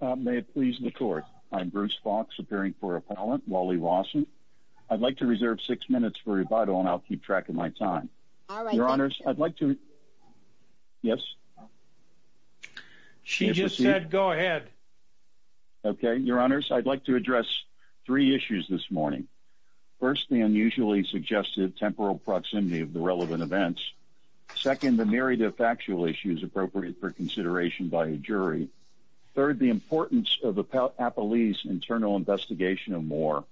May it please the court. I'm Bruce Fox, appearing for appellant Wally Lawson. I'd like to reserve six minutes for rebuttal and I'll keep track of my time. Your Honors, I'd like to... Yes? She just said go ahead. Okay. Your Honors, I'd like to address three issues this morning. First, the unusually suggested temporal proximity of the relevant events. Second, the myriad of factual issues appropriate for consideration by a jury. Third, the importance of the appellee's internal investigation of Moore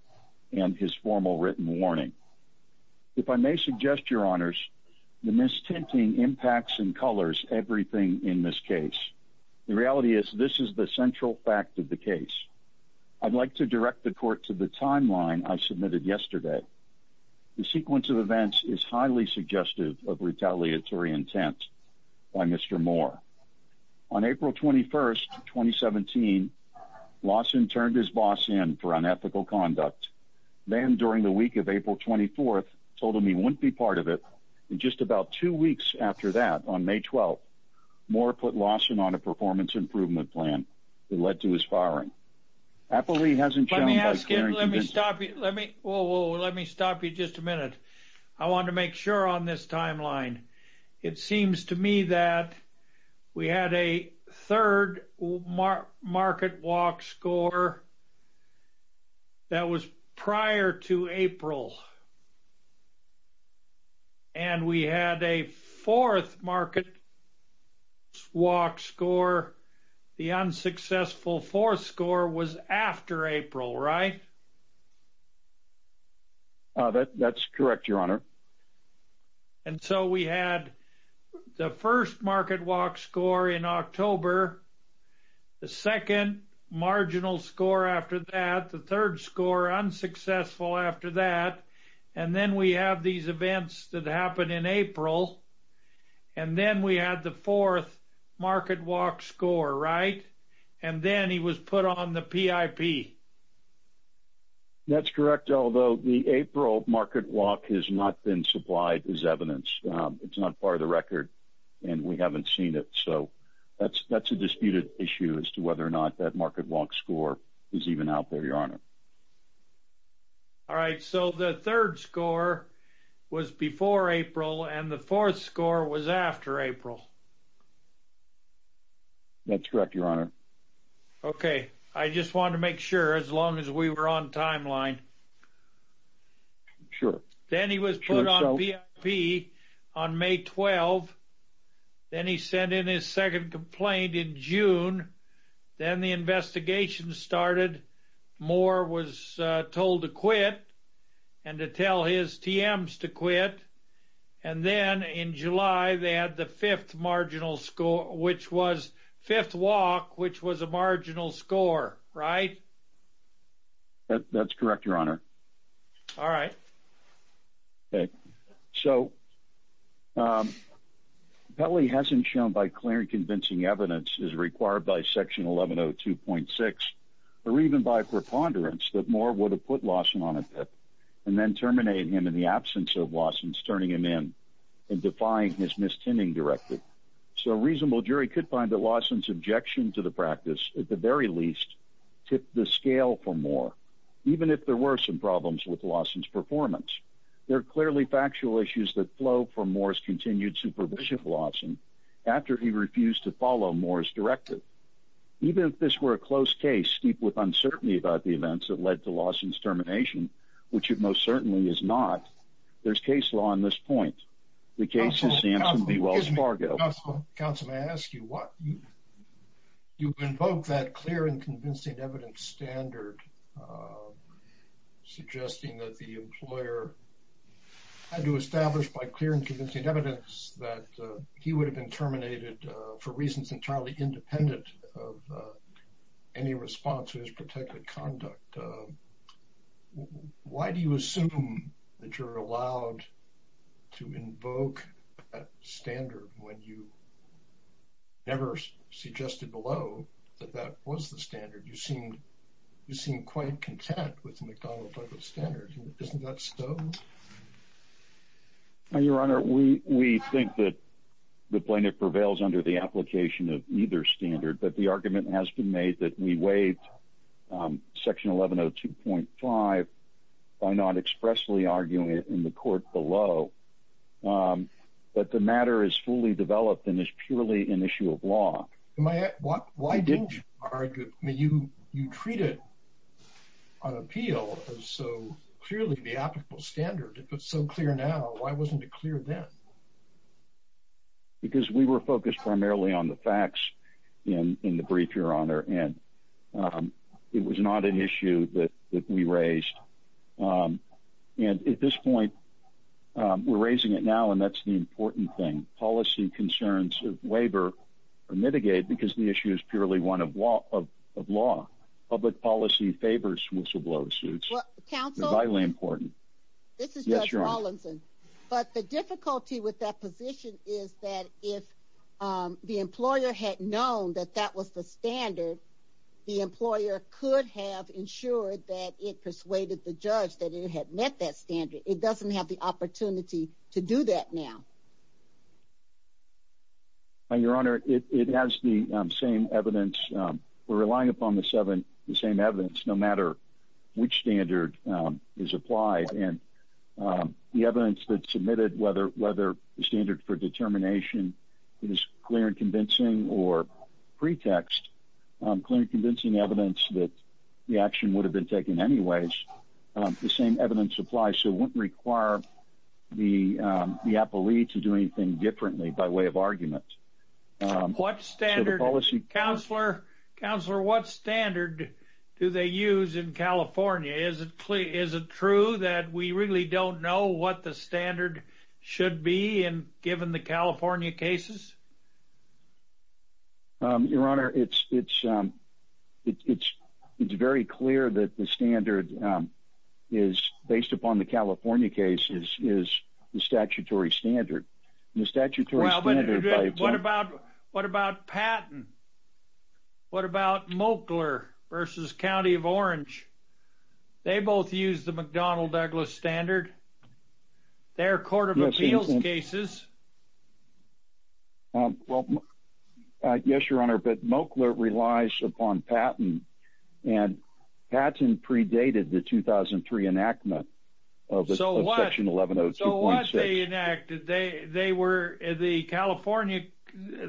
and his formal written warning. If I may suggest, Your Honors, the mistinting impacts and colors everything in this case. The reality is this is the central fact of the case. I'd like to direct the court to the timeline I submitted yesterday. The sequence of events is highly suggestive of retaliatory intent by Mr. Moore. On April 21st, 2017, Lawson turned his boss in for unethical conduct. Then, during the week of April 24th, told him he wouldn't be part of it. And just about two weeks after that, on May 12th, Moore put Lawson on a performance improvement plan that led to his firing. Appellee hasn't shown... Let me stop you just a minute. I want to make sure on this timeline. It seems to me that we had a third market walk score that was prior to April. And we had a fourth market walk score. The unsuccessful fourth score was after April, right? That's correct, Your Honor. And so we had the first market walk score in October, the second marginal score after that, the third score unsuccessful after that. And then we have these events that happened in April. And then we had the fourth market walk score, right? And then he was put on the PIP. That's correct, although the April market walk has not been supplied as evidence. It's not part of the record, and we haven't seen it. So that's a disputed issue as to whether or not that market walk score is even out there, Your Honor. All right. So the third score was before April, and the fourth score was after April. That's correct, Your Honor. Okay. I just wanted to make sure as long as we were on timeline. Sure. Then he was put on PIP on May 12. Then he sent in his second complaint in June. Then the investigation started. Moore was told to quit and to tell his TMs to quit. And then in July, they had the fifth marginal score, which was fifth walk, which was a marginal score, right? That's correct, Your Honor. All right. Okay. So Pelley hasn't shown by clear and convincing evidence, as required by Section 1102.6, or even by preponderance, that Moore would have put Lawson on a PIP and then terminated him in the absence of Lawson's turning him in and defying his mistending directly. So a reasonable jury could find that Lawson's objection to the practice, at the very least, tipped the scale for Moore, even if there were some problems with Lawson's performance. There are clearly factual issues that flow from Moore's continued supervision of Lawson after he refused to follow Moore's directive. Even if this were a close case steeped with uncertainty about the events that led to Lawson's termination, which it most certainly is not, there's case law on this point. The case is Samson v. Wells Fargo. Counsel, may I ask you what? You invoke that clear and convincing evidence standard, suggesting that the employer had to establish by clear and convincing evidence that he would have been terminated for reasons entirely independent of any response to his protected conduct. Why do you assume that you're allowed to invoke that standard when you never suggested below that that was the standard? You seem quite content with the McDonald-Douglas standard. Isn't that so? Your Honor, we think that the plaintiff prevails under the application of either standard, but the argument has been made that we waive section 1102.5 by not expressly arguing it in the court below. But the matter is fully developed and is purely an issue of law. Why didn't you argue? You treated an appeal as so clearly the applicable standard. If it's so clear now, why wasn't it clear then? Because we were focused primarily on the facts in the brief, Your Honor, and it was not an issue that we raised. And at this point, we're raising it now, and that's the important thing. Policy concerns of waiver are mitigated because the issue is purely one of law. Public policy favors whistleblower suits. Counsel? They're vitally important. This is Judge Rawlinson. But the difficulty with that position is that if the employer had known that that was the standard, the employer could have ensured that it persuaded the judge that it had met that standard. It doesn't have the opportunity to do that now. Your Honor, it has the same evidence. We're relying upon the same evidence no matter which standard is applied. And the evidence that's submitted, whether the standard for determination is clear and convincing or pretext clear and convincing evidence that the action would have been taken anyways, the same evidence applies. So it wouldn't require the appellee to do anything differently by way of argument. What standard? Counselor, what standard do they use in California? Is it true that we really don't know what the standard should be given the California cases? Your Honor, it's very clear that the standard is, based upon the California cases, is the statutory standard. Well, but what about Patton? What about Moakler versus County of Orange? They both use the McDonnell Douglas standard. They're court of appeals cases. Well, yes, Your Honor, but Moakler relies upon Patton, and Patton predated the 2003 enactment of Section 1102.6.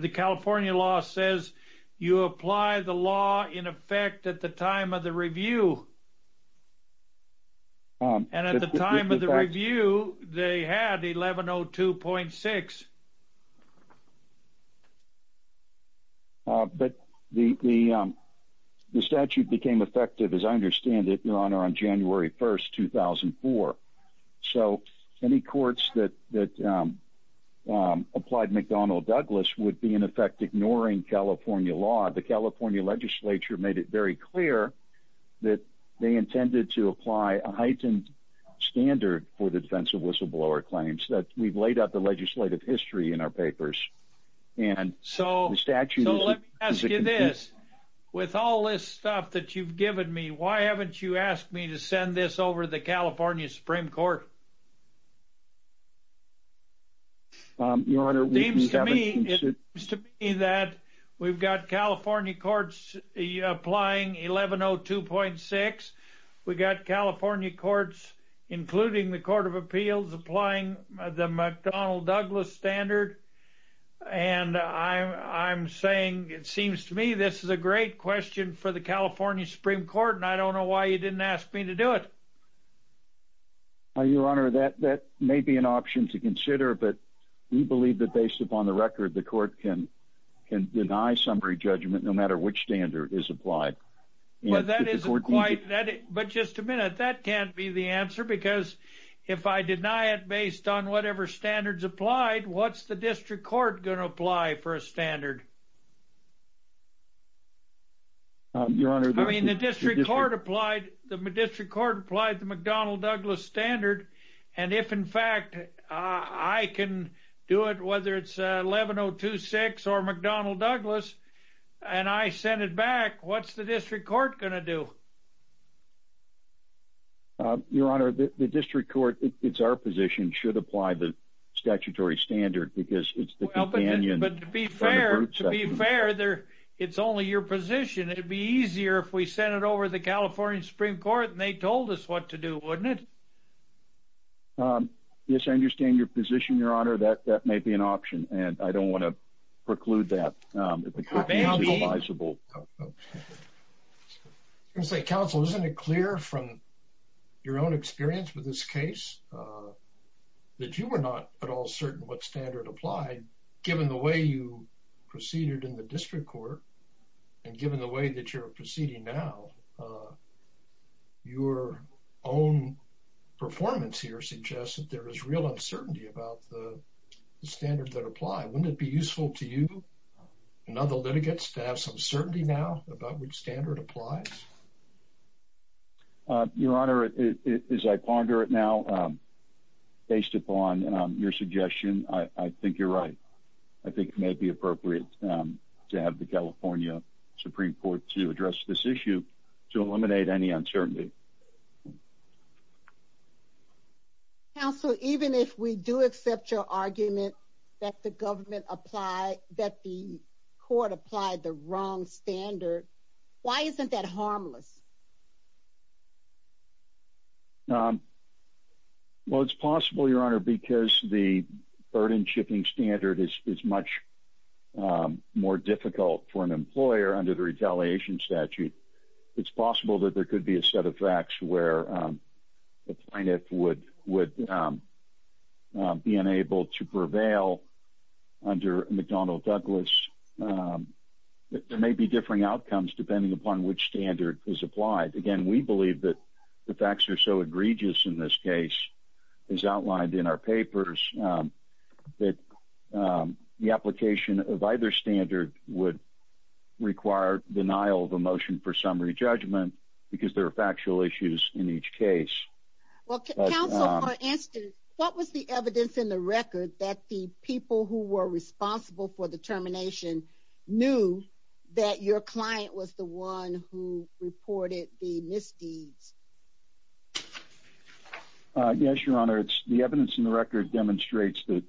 The California law says you apply the law in effect at the time of the review. And at the time of the review, they had 1102.6. But the statute became effective, as I understand it, Your Honor, on January 1, 2004. So any courts that applied McDonnell Douglas would be in effect ignoring California law. The California legislature made it very clear that they intended to apply a heightened standard for the defense of whistleblower claims. We've laid out the legislative history in our papers. So let me ask you this. With all this stuff that you've given me, why haven't you asked me to send this over to the California Supreme Court? It seems to me that we've got California courts applying 1102.6. We've got California courts, including the Court of Appeals, applying the McDonnell Douglas standard. And I'm saying it seems to me this is a great question for the California Supreme Court, and I don't know why you didn't ask me to do it. Your Honor, that may be an option to consider, but we believe that based upon the record, the court can deny summary judgment no matter which standard is applied. But just a minute. That can't be the answer because if I deny it based on whatever standards applied, then it's not a fair question. I mean, the district court applied the McDonnell Douglas standard, and if, in fact, I can do it, whether it's 1102.6 or McDonnell Douglas, and I send it back, what's the district court going to do? Your Honor, the district court, it's our position, should apply the statutory standard because it's the companion but to be fair, it's only your position. It would be easier if we sent it over to the California Supreme Court and they told us what to do, wouldn't it? Yes, I understand your position, Your Honor. That may be an option, and I don't want to preclude that. If it's possible. Counsel, isn't it clear from your own experience with this case that you were not at all certain what standard applied given the way you proceeded in the district court and given the way that you're proceeding now, your own performance here suggests that there is real uncertainty about the standards that apply. Wouldn't it be useful to you and other litigants to have some certainty now about which standard applies? Your Honor, as I ponder it now, based upon your suggestion, I think you're right. I think it may be appropriate to have the California Supreme Court to address this issue to eliminate any uncertainty. Counsel, even if we do accept your argument that the government applied, that the court applied the wrong standard, why isn't that harmless? Well, it's possible, Your Honor, because the burden-shipping standard is much more difficult for an employer under the retaliation statute. It's possible that there could be a set of facts where the plaintiff would be unable to prevail under McDonnell-Douglas. There may be differing outcomes depending upon which standard is applied. Again, we believe that the facts are so egregious in this case, as outlined in our papers, that the application of either standard would require denial of a motion for summary judgment because there are factual issues in each case. Counsel, for instance, what was the evidence in the record that the people who were responsible for the termination knew that your client was the one who reported the misdeeds? Yes, Your Honor, the evidence in the record demonstrates that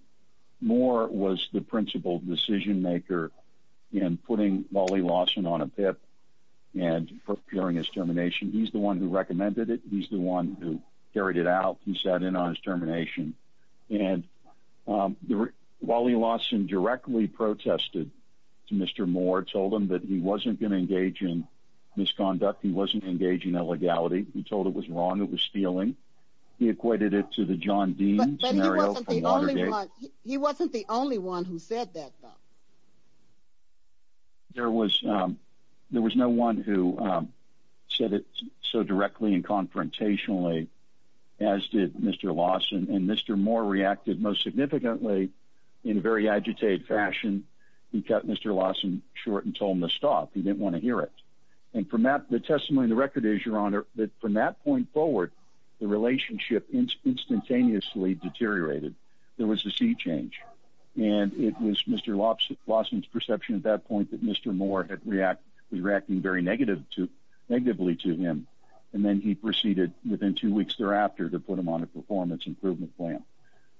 Moore was the principal decision-maker in putting Wally Lawson on a PIP and preparing his termination. He's the one who recommended it. He's the one who carried it out. He sat in on his termination. And Wally Lawson directly protested to Mr. Moore, told him that he wasn't going to engage in misconduct. He wasn't going to engage in illegality. He told it was wrong. It was stealing. He equated it to the John Dean scenario from Watergate. But he wasn't the only one who said that, though. There was no one who said it so directly and confrontationally, as did Mr. Lawson. And Mr. Moore reacted most significantly in a very agitated fashion. He cut Mr. Lawson short and told him to stop. He didn't want to hear it. And the testimony in the record is, Your Honor, that from that point forward, the relationship instantaneously deteriorated. There was a sea change. And it was Mr. Lawson's perception at that point that Mr. Moore was reacting very negatively to him. And then he proceeded within two weeks thereafter to put him on a performance improvement plan.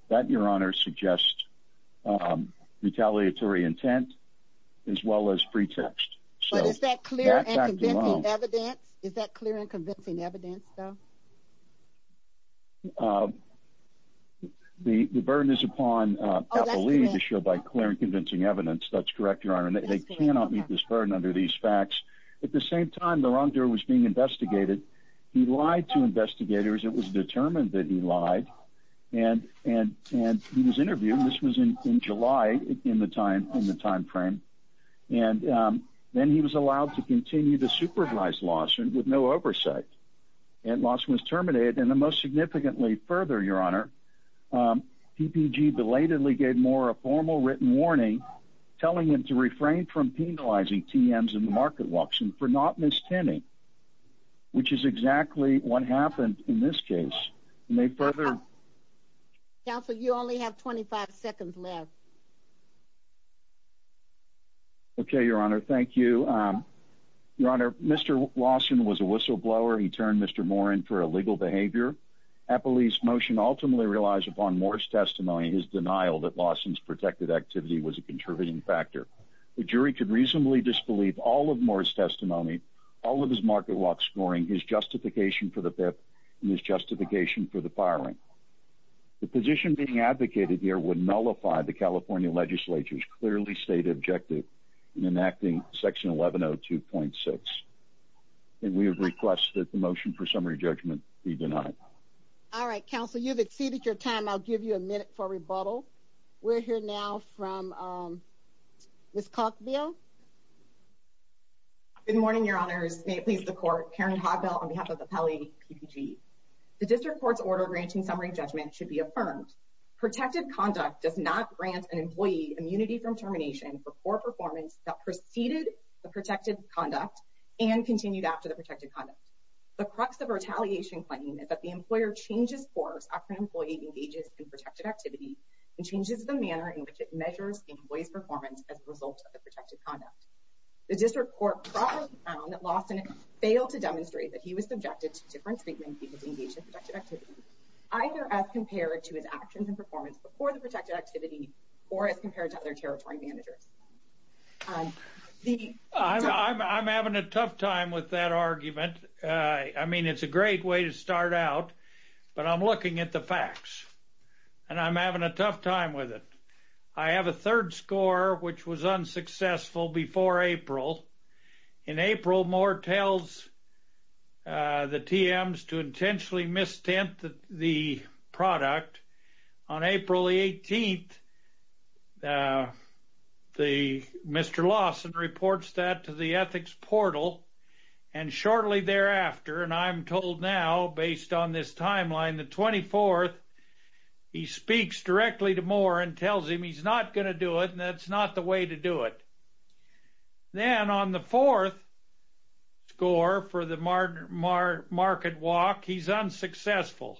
That, Your Honor, suggests retaliatory intent as well as pretext. But is that clear and convincing evidence? Is that clear and convincing evidence, though? The burden is upon Kathleen to show by clear and convincing evidence. That's correct, Your Honor. And they cannot meet this burden under these facts. At the same time, the wrongdoer was being investigated. He lied to investigators. It was determined that he lied. And he was interviewed. This was in July in the time frame. And then he was allowed to continue to supervise Lawson with no oversight. And Lawson was terminated. And then most significantly further, Your Honor, TPG belatedly gave Moore a formal written warning telling him to refrain from penalizing TMs in the market walks and for not mistending, which is exactly what happened in this case. May I further? Counsel, you only have 25 seconds left. Okay, Your Honor. Thank you. Your Honor, Mr. Lawson was a whistleblower. He turned Mr. Moore in for illegal behavior. Appleby's motion ultimately relies upon Moore's testimony, his denial that Lawson's protected activity was a contributing factor. The jury could reasonably disbelieve all of Moore's testimony, all of his market walk scoring, his justification for the PIP and his justification for the firing. The position being advocated here would nullify the California legislature's clearly stated objective in enacting Section 1102.6. And we have requested the motion for summary judgment be denied. All right, Counsel. You've exceeded your time. I'll give you a minute for rebuttal. We're here now from Ms. Cogbill. Good morning, Your Honors. May it please the Court. Karen Cogbill on behalf of the Pele PPG. The district court's order granting summary judgment should be affirmed. Protected conduct does not grant an employee immunity from termination for poor performance that preceded the protected conduct and continued after the protected conduct. The crux of a retaliation claim is that the employer changes course after an employee engages in protected activity and changes the manner in which it measures the employee's performance as a result of the protected conduct. The district court properly found that Lawson failed to demonstrate that he was subjected to different treatments either as compared to his actions and performance before the protected activity or as compared to other territory managers. I'm having a tough time with that argument. I mean, it's a great way to start out, but I'm looking at the facts, and I'm having a tough time with it. I have a third score, which was unsuccessful before April. In April, Moore tells the TMs to intentionally mis-tempt the product. On April 18th, Mr. Lawson reports that to the ethics portal, and shortly thereafter, and I'm told now based on this timeline, the 24th, he speaks directly to Moore and tells him he's not going to do it, and that's not the way to do it. Then on the fourth score for the market walk, he's unsuccessful.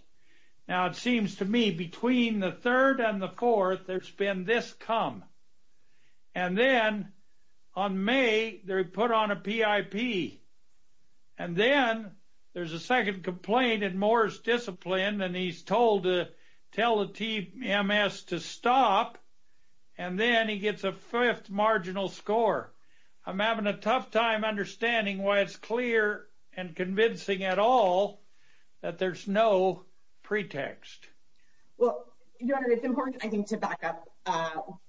Now, it seems to me between the third and the fourth, there's been this come, and then on May, they put on a PIP, and then there's a second complaint, and Moore's disciplined, and he's told to tell the TMS to stop, and then he gets a fifth marginal score. I'm having a tough time understanding why it's clear and convincing at all that there's no pretext. Well, Your Honor, it's important, I think, to back up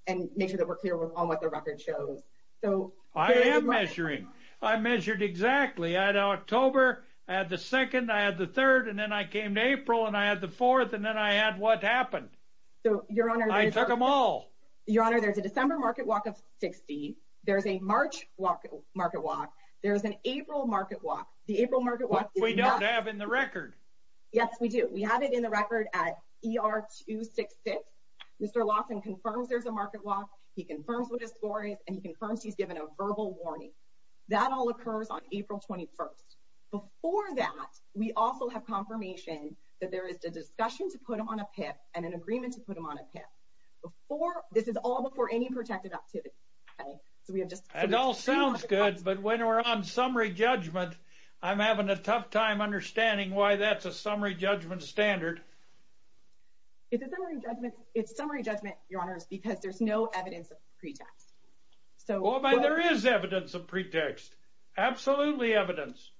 and make sure that we're clear on what the record shows. I am measuring. I measured exactly. I had October, I had the second, I had the third, and then I came to April, and I had the fourth, and then I had what happened. I took them all. Your Honor, there's a December market walk of 60. There's a March market walk. There's an April market walk. The April market walk is not… Which we don't have in the record. Yes, we do. We have it in the record at ER 266. Mr. Lawson confirms there's a market walk. He confirms what his score is, and he confirms he's given a verbal warning. That all occurs on April 21st. Before that, we also have confirmation that there is a discussion to put on a PIP and an agreement to put on a PIP. This is all before any protected activity. It all sounds good, but when we're on summary judgment, I'm having a tough time understanding why that's a summary judgment standard. It's summary judgment, Your Honor, because there's no evidence of pretext. Well, there is evidence of pretext. Absolutely evidence.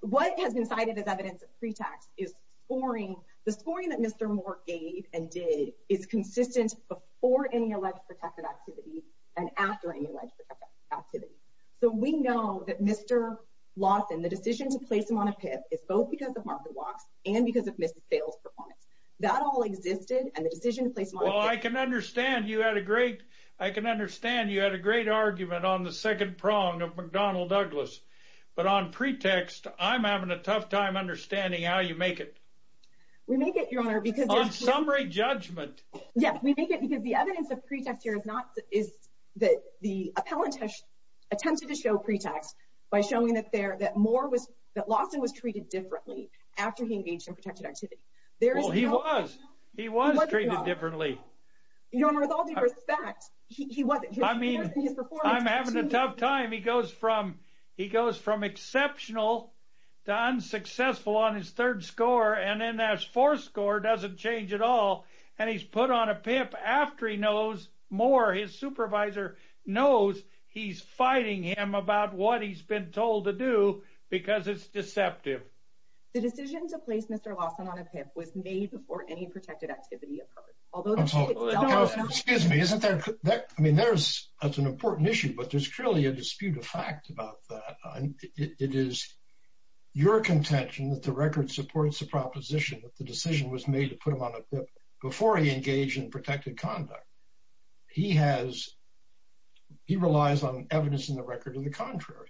What has been cited as evidence of pretext is scoring. The scoring that Mr. Moore gave and did is consistent before any alleged protected activity and after any alleged protected activity. So we know that Mr. Lawson, the decision to place him on a PIP, is both because of market walks and because of missed sales performance. That all existed, and the decision to place him on a PIP… Well, I can understand you had a great argument on the second prong of McDonnell Douglas, but on pretext, I'm having a tough time understanding how you make it. We make it, Your Honor, because… On summary judgment. Yes, we make it because the evidence of pretext here is that the appellant has attempted to show pretext by showing that Lawson was treated differently after he engaged in protected activity. Well, he was. He was treated differently. Your Honor, with all due respect, he wasn't. I'm having a tough time. He goes from exceptional to unsuccessful on his third score, and then that fourth score doesn't change at all, and he's put on a PIP after he knows Moore, his supervisor, knows he's fighting him about what he's been told to do because it's deceptive. The decision to place Mr. Lawson on a PIP was made before any protected activity occurred. Excuse me. I mean, that's an important issue, but there's clearly a dispute of fact about that. It is your contention that the record supports the proposition that the decision was made to put him on a PIP before he engaged in protected conduct. He relies on evidence in the record of the contrary.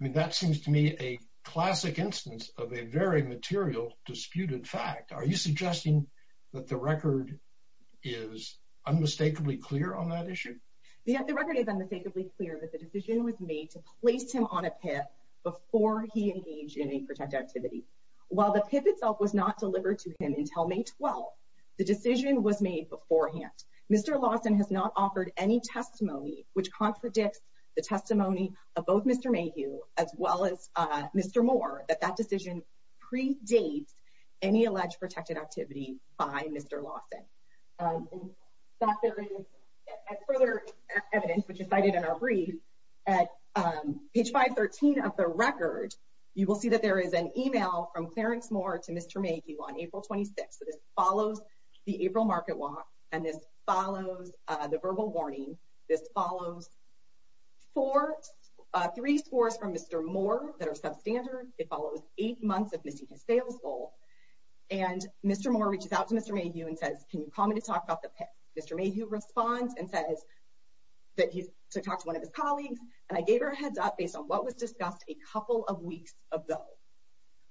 I mean, that seems to me a classic instance of a very material disputed fact. Are you suggesting that the record is unmistakably clear on that issue? The record is unmistakably clear that the decision was made to place him on a PIP before he engaged in a protected activity. While the PIP itself was not delivered to him until May 12, the decision was made beforehand. Mr. Lawson has not offered any testimony which contradicts the testimony of both Mr. Mayhew as well as Mr. Moore, that that decision predates any alleged protected activity by Mr. Lawson. Further evidence, which is cited in our brief, at page 513 of the record, you will see that there is an email from Clarence Moore to Mr. Mayhew on April 26. This follows the April market walk, and this follows the verbal warning. This follows three scores from Mr. Moore that are substandard. It follows eight months of missing his sales goal. And Mr. Moore reaches out to Mr. Mayhew and says, can you call me to talk about the PIP? Mr. Mayhew responds and says that he's to talk to one of his colleagues. And I gave her a heads up based on what was discussed a couple of weeks ago.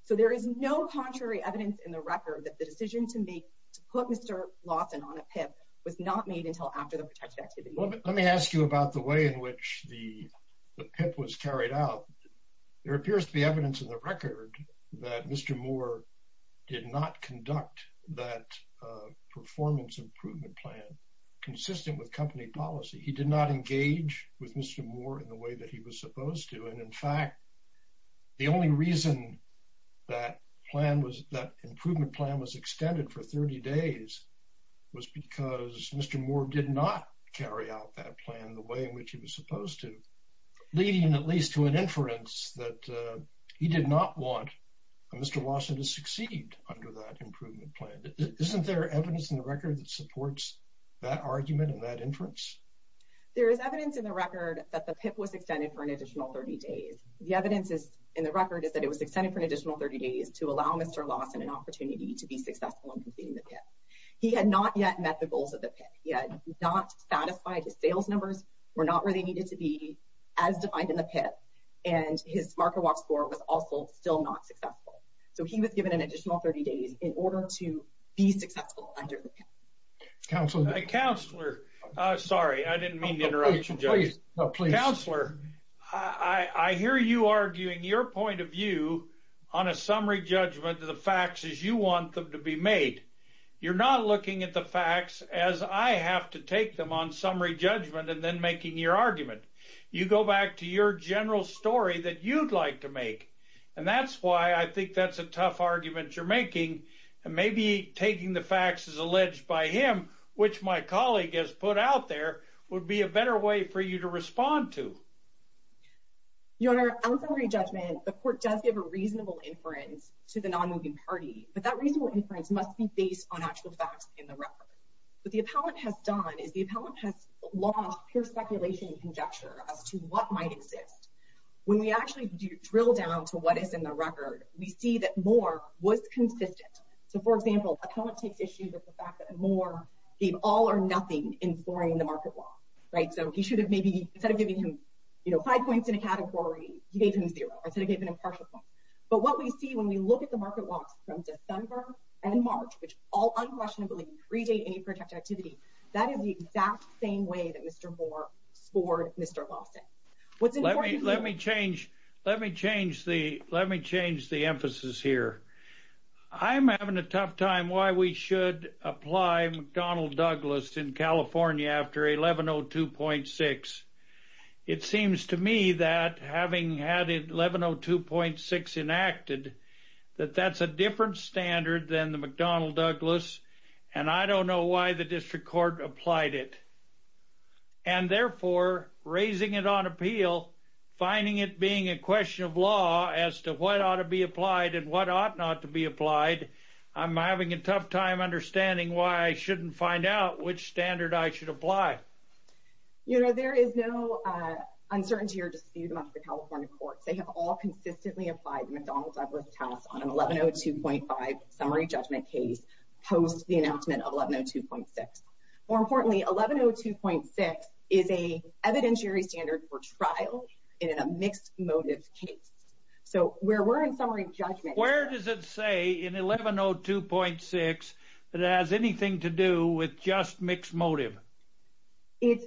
So there is no contrary evidence in the record that the decision to make to put Mr. Lawson on a PIP was not made until after the protected activity. Let me ask you about the way in which the PIP was carried out. There appears to be evidence in the record that Mr. Moore did not conduct that performance improvement plan consistent with company policy. He did not engage with Mr. Moore in the way that he was supposed to. And in fact, the only reason that plan was that improvement plan was extended for 30 days was because Mr. Moore did not carry out that plan the way in which he was supposed to, leading at least to an inference that he did not want Mr. Lawson to succeed under that improvement plan. Isn't there evidence in the record that supports that argument and that inference? There is evidence in the record that the PIP was extended for an additional 30 days. The evidence is in the record is that it was extended for an additional 30 days to allow Mr. Lawson an opportunity to be successful in completing the PIP. He had not yet met the goals of the PIP. He had not satisfied his sales numbers were not where they needed to be as defined in the PIP. And his marker walk score was also still not successful. So he was given an additional 30 days in order to be successful under the PIP. Thank you. Councilor? Councilor, sorry, I didn't mean to interrupt you, Joseph. No, please. Councilor, I hear you arguing your point of view on a summary judgment to the facts as you want them to be made. You're not looking at the facts as I have to take them on summary judgment and then making your argument. You go back to your general story that you'd like to make, and that's why I think that's a tough argument you're making. Maybe taking the facts as alleged by him, which my colleague has put out there, would be a better way for you to respond to. Your Honor, on summary judgment, the court does give a reasonable inference to the non-moving party, but that reasonable inference must be based on actual facts in the record. What the appellant has done is the appellant has lost pure speculation and conjecture as to what might exist. When we actually drill down to what is in the record, we see that Moore was consistent. So, for example, appellant takes issue with the fact that Moore gave all or nothing in scoring the market loss. So he should have maybe, instead of giving him five points in a category, he gave him zero, instead of giving him partial points. But what we see when we look at the market loss from December and March, which all unquestionably predate any protected activity, that is the exact same way that Mr. Moore scored Mr. Lawson. Let me change the emphasis here. I'm having a tough time why we should apply McDonnell-Douglas in California after 1102.6. It seems to me that having had 1102.6 enacted, that that's a different standard than the McDonnell-Douglas, and I don't know why the district court applied it. And therefore, raising it on appeal, finding it being a question of law as to what ought to be applied and what ought not to be applied, I'm having a tough time understanding why I shouldn't find out which standard I should apply. You know, there is no uncertainty or dispute amongst the California courts. They have all consistently applied McDonnell-Douglas on an 1102.5 summary judgment case post the announcement of 1102.6. More importantly, 1102.6 is an evidentiary standard for trial in a mixed motive case. So where we're in summary judgment... Where does it say in 1102.6 that it has anything to do with just mixed motive? It's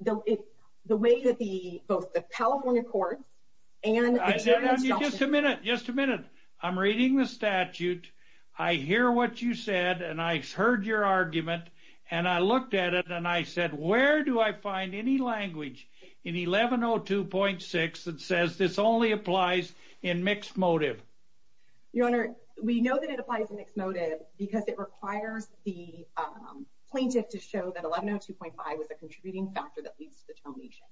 the way that both the California courts and the jury... Just a minute, just a minute. I'm reading the statute. I hear what you said, and I heard your argument, and I looked at it, and I said, where do I find any language in 1102.6 that says this only applies in mixed motive? Your Honor, we know that it applies in mixed motive because it requires the plaintiff to show that 1102.5 was a contributing factor that leads to the termination.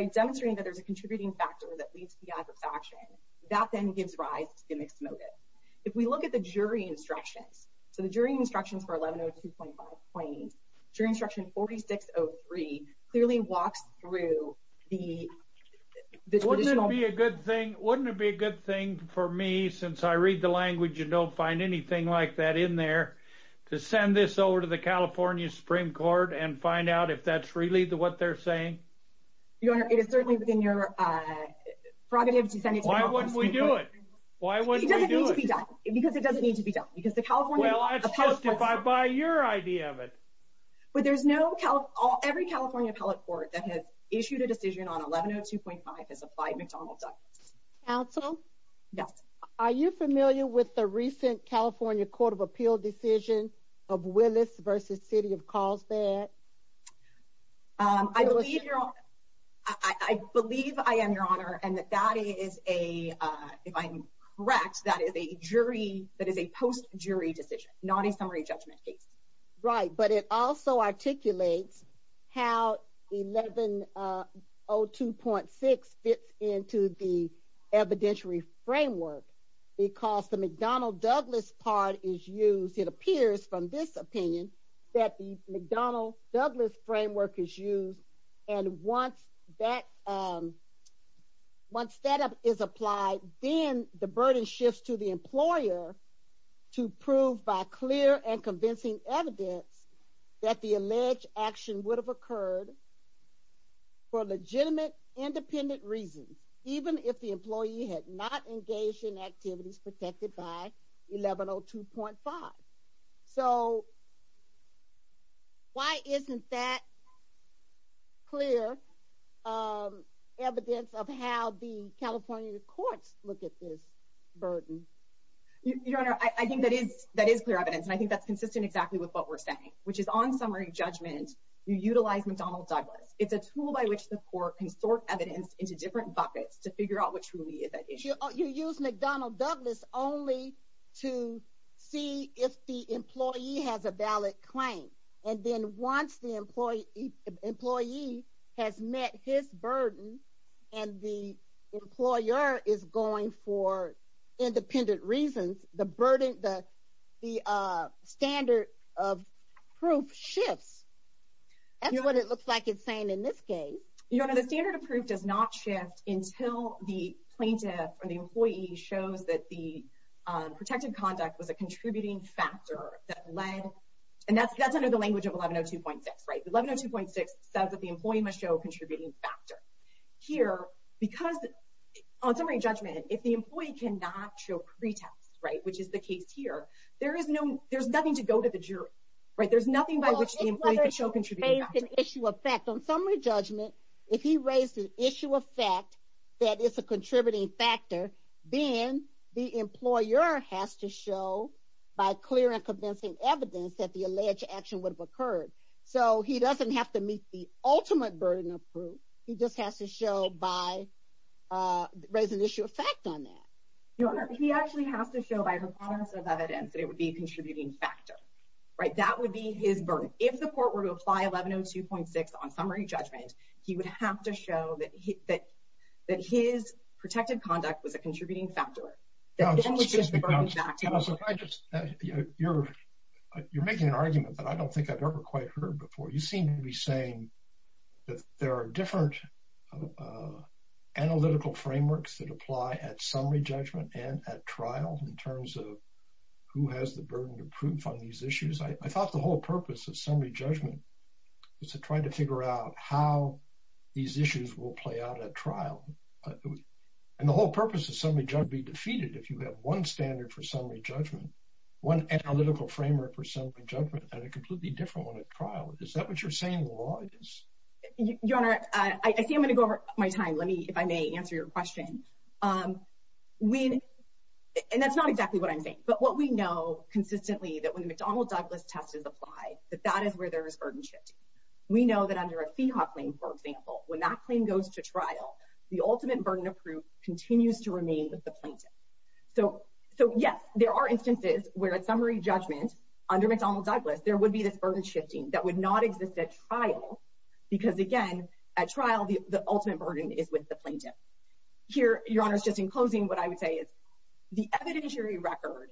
By demonstrating that there's a contributing factor that leads to the act of sanction, that then gives rise to the mixed motive. If we look at the jury instructions, so the jury instructions for 1102.5 plain, jury instruction 4603 clearly walks through the traditional... Wouldn't it be a good thing for me, since I read the language and don't find anything like that in there, to send this over to the California Supreme Court and find out if that's really what they're saying? Your Honor, it is certainly within your prerogative to send it to the Supreme Court. Why wouldn't we do it? Why wouldn't we do it? It doesn't need to be done, because it doesn't need to be done, because the California... Well, that's justified by your idea of it. But there's no... Every California appellate court that has issued a decision on 1102.5 has applied McDonald's Act. Counsel? Yes? Are you familiar with the recent California Court of Appeal decision of Willis v. City of Carlsbad? I believe, Your Honor... I believe I am, Your Honor, and that that is a... If I'm correct, that is a jury... That is a post-jury decision, not a summary judgment case. Right, but it also articulates how 1102.6 fits into the evidentiary framework, because the McDonnell-Douglas part is used. It appears from this opinion that the McDonnell-Douglas framework is used, and once that... Then the burden shifts to the employer to prove by clear and convincing evidence that the alleged action would have occurred for legitimate, independent reasons, even if the employee had not engaged in activities protected by 1102.5. So, why isn't that clear evidence of how the California courts look at this burden? Your Honor, I think that is clear evidence, and I think that's consistent exactly with what we're saying, which is on summary judgment, you utilize McDonnell-Douglas. It's a tool by which the court can sort evidence into different buckets to figure out what truly is at issue. But you use McDonnell-Douglas only to see if the employee has a valid claim, and then once the employee has met his burden and the employer is going for independent reasons, the standard of proof shifts. That's what it looks like it's saying in this case. Your Honor, the standard of proof does not shift until the plaintiff or the employee shows that the protected conduct was a contributing factor that led... And that's under the language of 1102.6. 1102.6 says that the employee must show a contributing factor. Here, because on summary judgment, if the employee cannot show pretext, which is the case here, there's nothing to go to the jury. There's nothing by which the employee could show a contributing factor. On summary judgment, if he raised an issue of fact that is a contributing factor, then the employer has to show by clear and convincing evidence that the alleged action would have occurred. So he doesn't have to meet the ultimate burden of proof. He just has to show by raising an issue of fact on that. Your Honor, he actually has to show by the promise of evidence that it would be a contributing factor. That would be his burden. If the court were to apply 1102.6 on summary judgment, he would have to show that his protected conduct was a contributing factor. You're making an argument that I don't think I've ever quite heard before. You seem to be saying that there are different analytical frameworks that apply at summary judgment and at trial in terms of who has the burden of proof on these issues. I thought the whole purpose of summary judgment was to try to figure out how these issues will play out at trial. And the whole purpose of summary judgment would be defeated if you have one standard for summary judgment, one analytical framework for summary judgment and a completely different one at trial. Is that what you're saying the law is? Your Honor, I see I'm going to go over my time. Let me, if I may, answer your question. And that's not exactly what I'm saying. But what we know consistently that when the McDonnell Douglas test is applied, that that is where there is burden shifting. We know that under a FIHA claim, for example, when that claim goes to trial, the ultimate burden of proof continues to remain with the plaintiff. So, yes, there are instances where at summary judgment under McDonnell Douglas, there would be this burden shifting that would not exist at trial because, again, at trial, the ultimate burden is with the plaintiff. Here, Your Honor, just in closing, what I would say is the evidentiary record,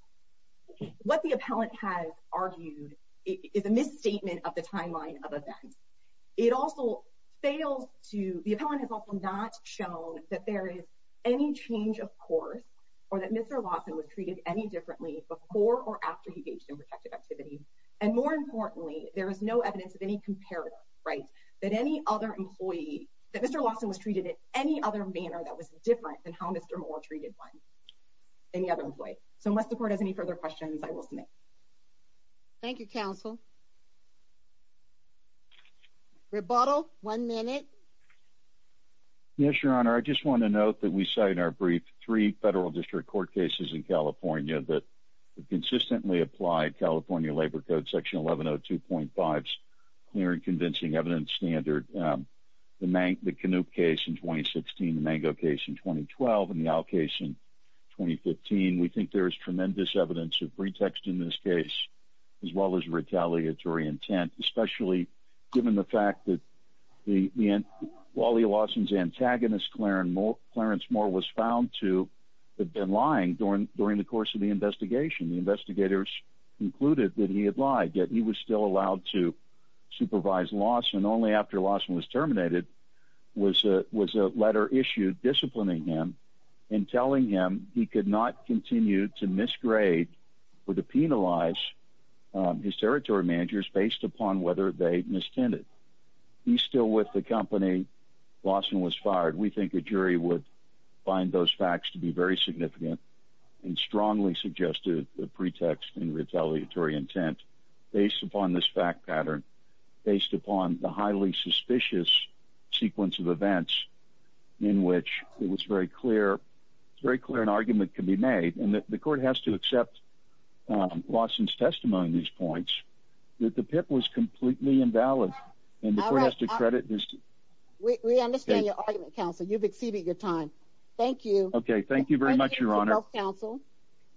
what the appellant has argued is a misstatement of the timeline of events. It also fails to, the appellant has also not shown that there is any change of course or that Mr. Lawson was treated any differently before or after he engaged in protective activities. And more importantly, there is no evidence of any comparison, right, that any other employee, that Mr. Lawson was treated in any other manner that was different than how Mr. Moore treated one, any other employee. So unless the court has any further questions, I will submit. Thank you, counsel. Rebuttal, one minute. Yes, Your Honor. I just want to note that we cite in our brief three federal district court cases in California that consistently apply California Labor Code Section 1102.5's clear and convincing evidence standard. The Canoop case in 2016, the Mango case in 2012, and the Owl case in 2015. We think there is tremendous evidence of pretext in this case as well as retaliatory intent, especially given the fact that Wally Lawson's antagonist Clarence Moore was found to have been lying during the course of the investigation. The investigators concluded that he had lied, yet he was still allowed to supervise Lawson only after Lawson was terminated was a letter issued disciplining him and telling him he could not continue to misgrade or to penalize his territory managers based upon whether they mistended. He's still with the company. Lawson was fired. We think a jury would find those facts to be very significant and strongly suggested the pretext and retaliatory intent based upon this fact pattern, based upon the highly suspicious sequence of events in which it was very clear an argument could be made. The court has to accept Lawson's testimony on these points that the PIP was completely invalid and the court has to credit this. We understand your argument, counsel. You've exceeded your time. Thank you. Okay, thank you very much, Your Honor.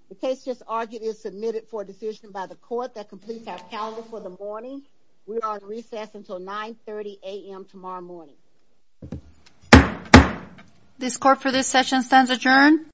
The case just argued is submitted for decision by the court that completes our calendar for the morning. We are on recess until 9.30 a.m. tomorrow morning. This court for this session stands adjourned.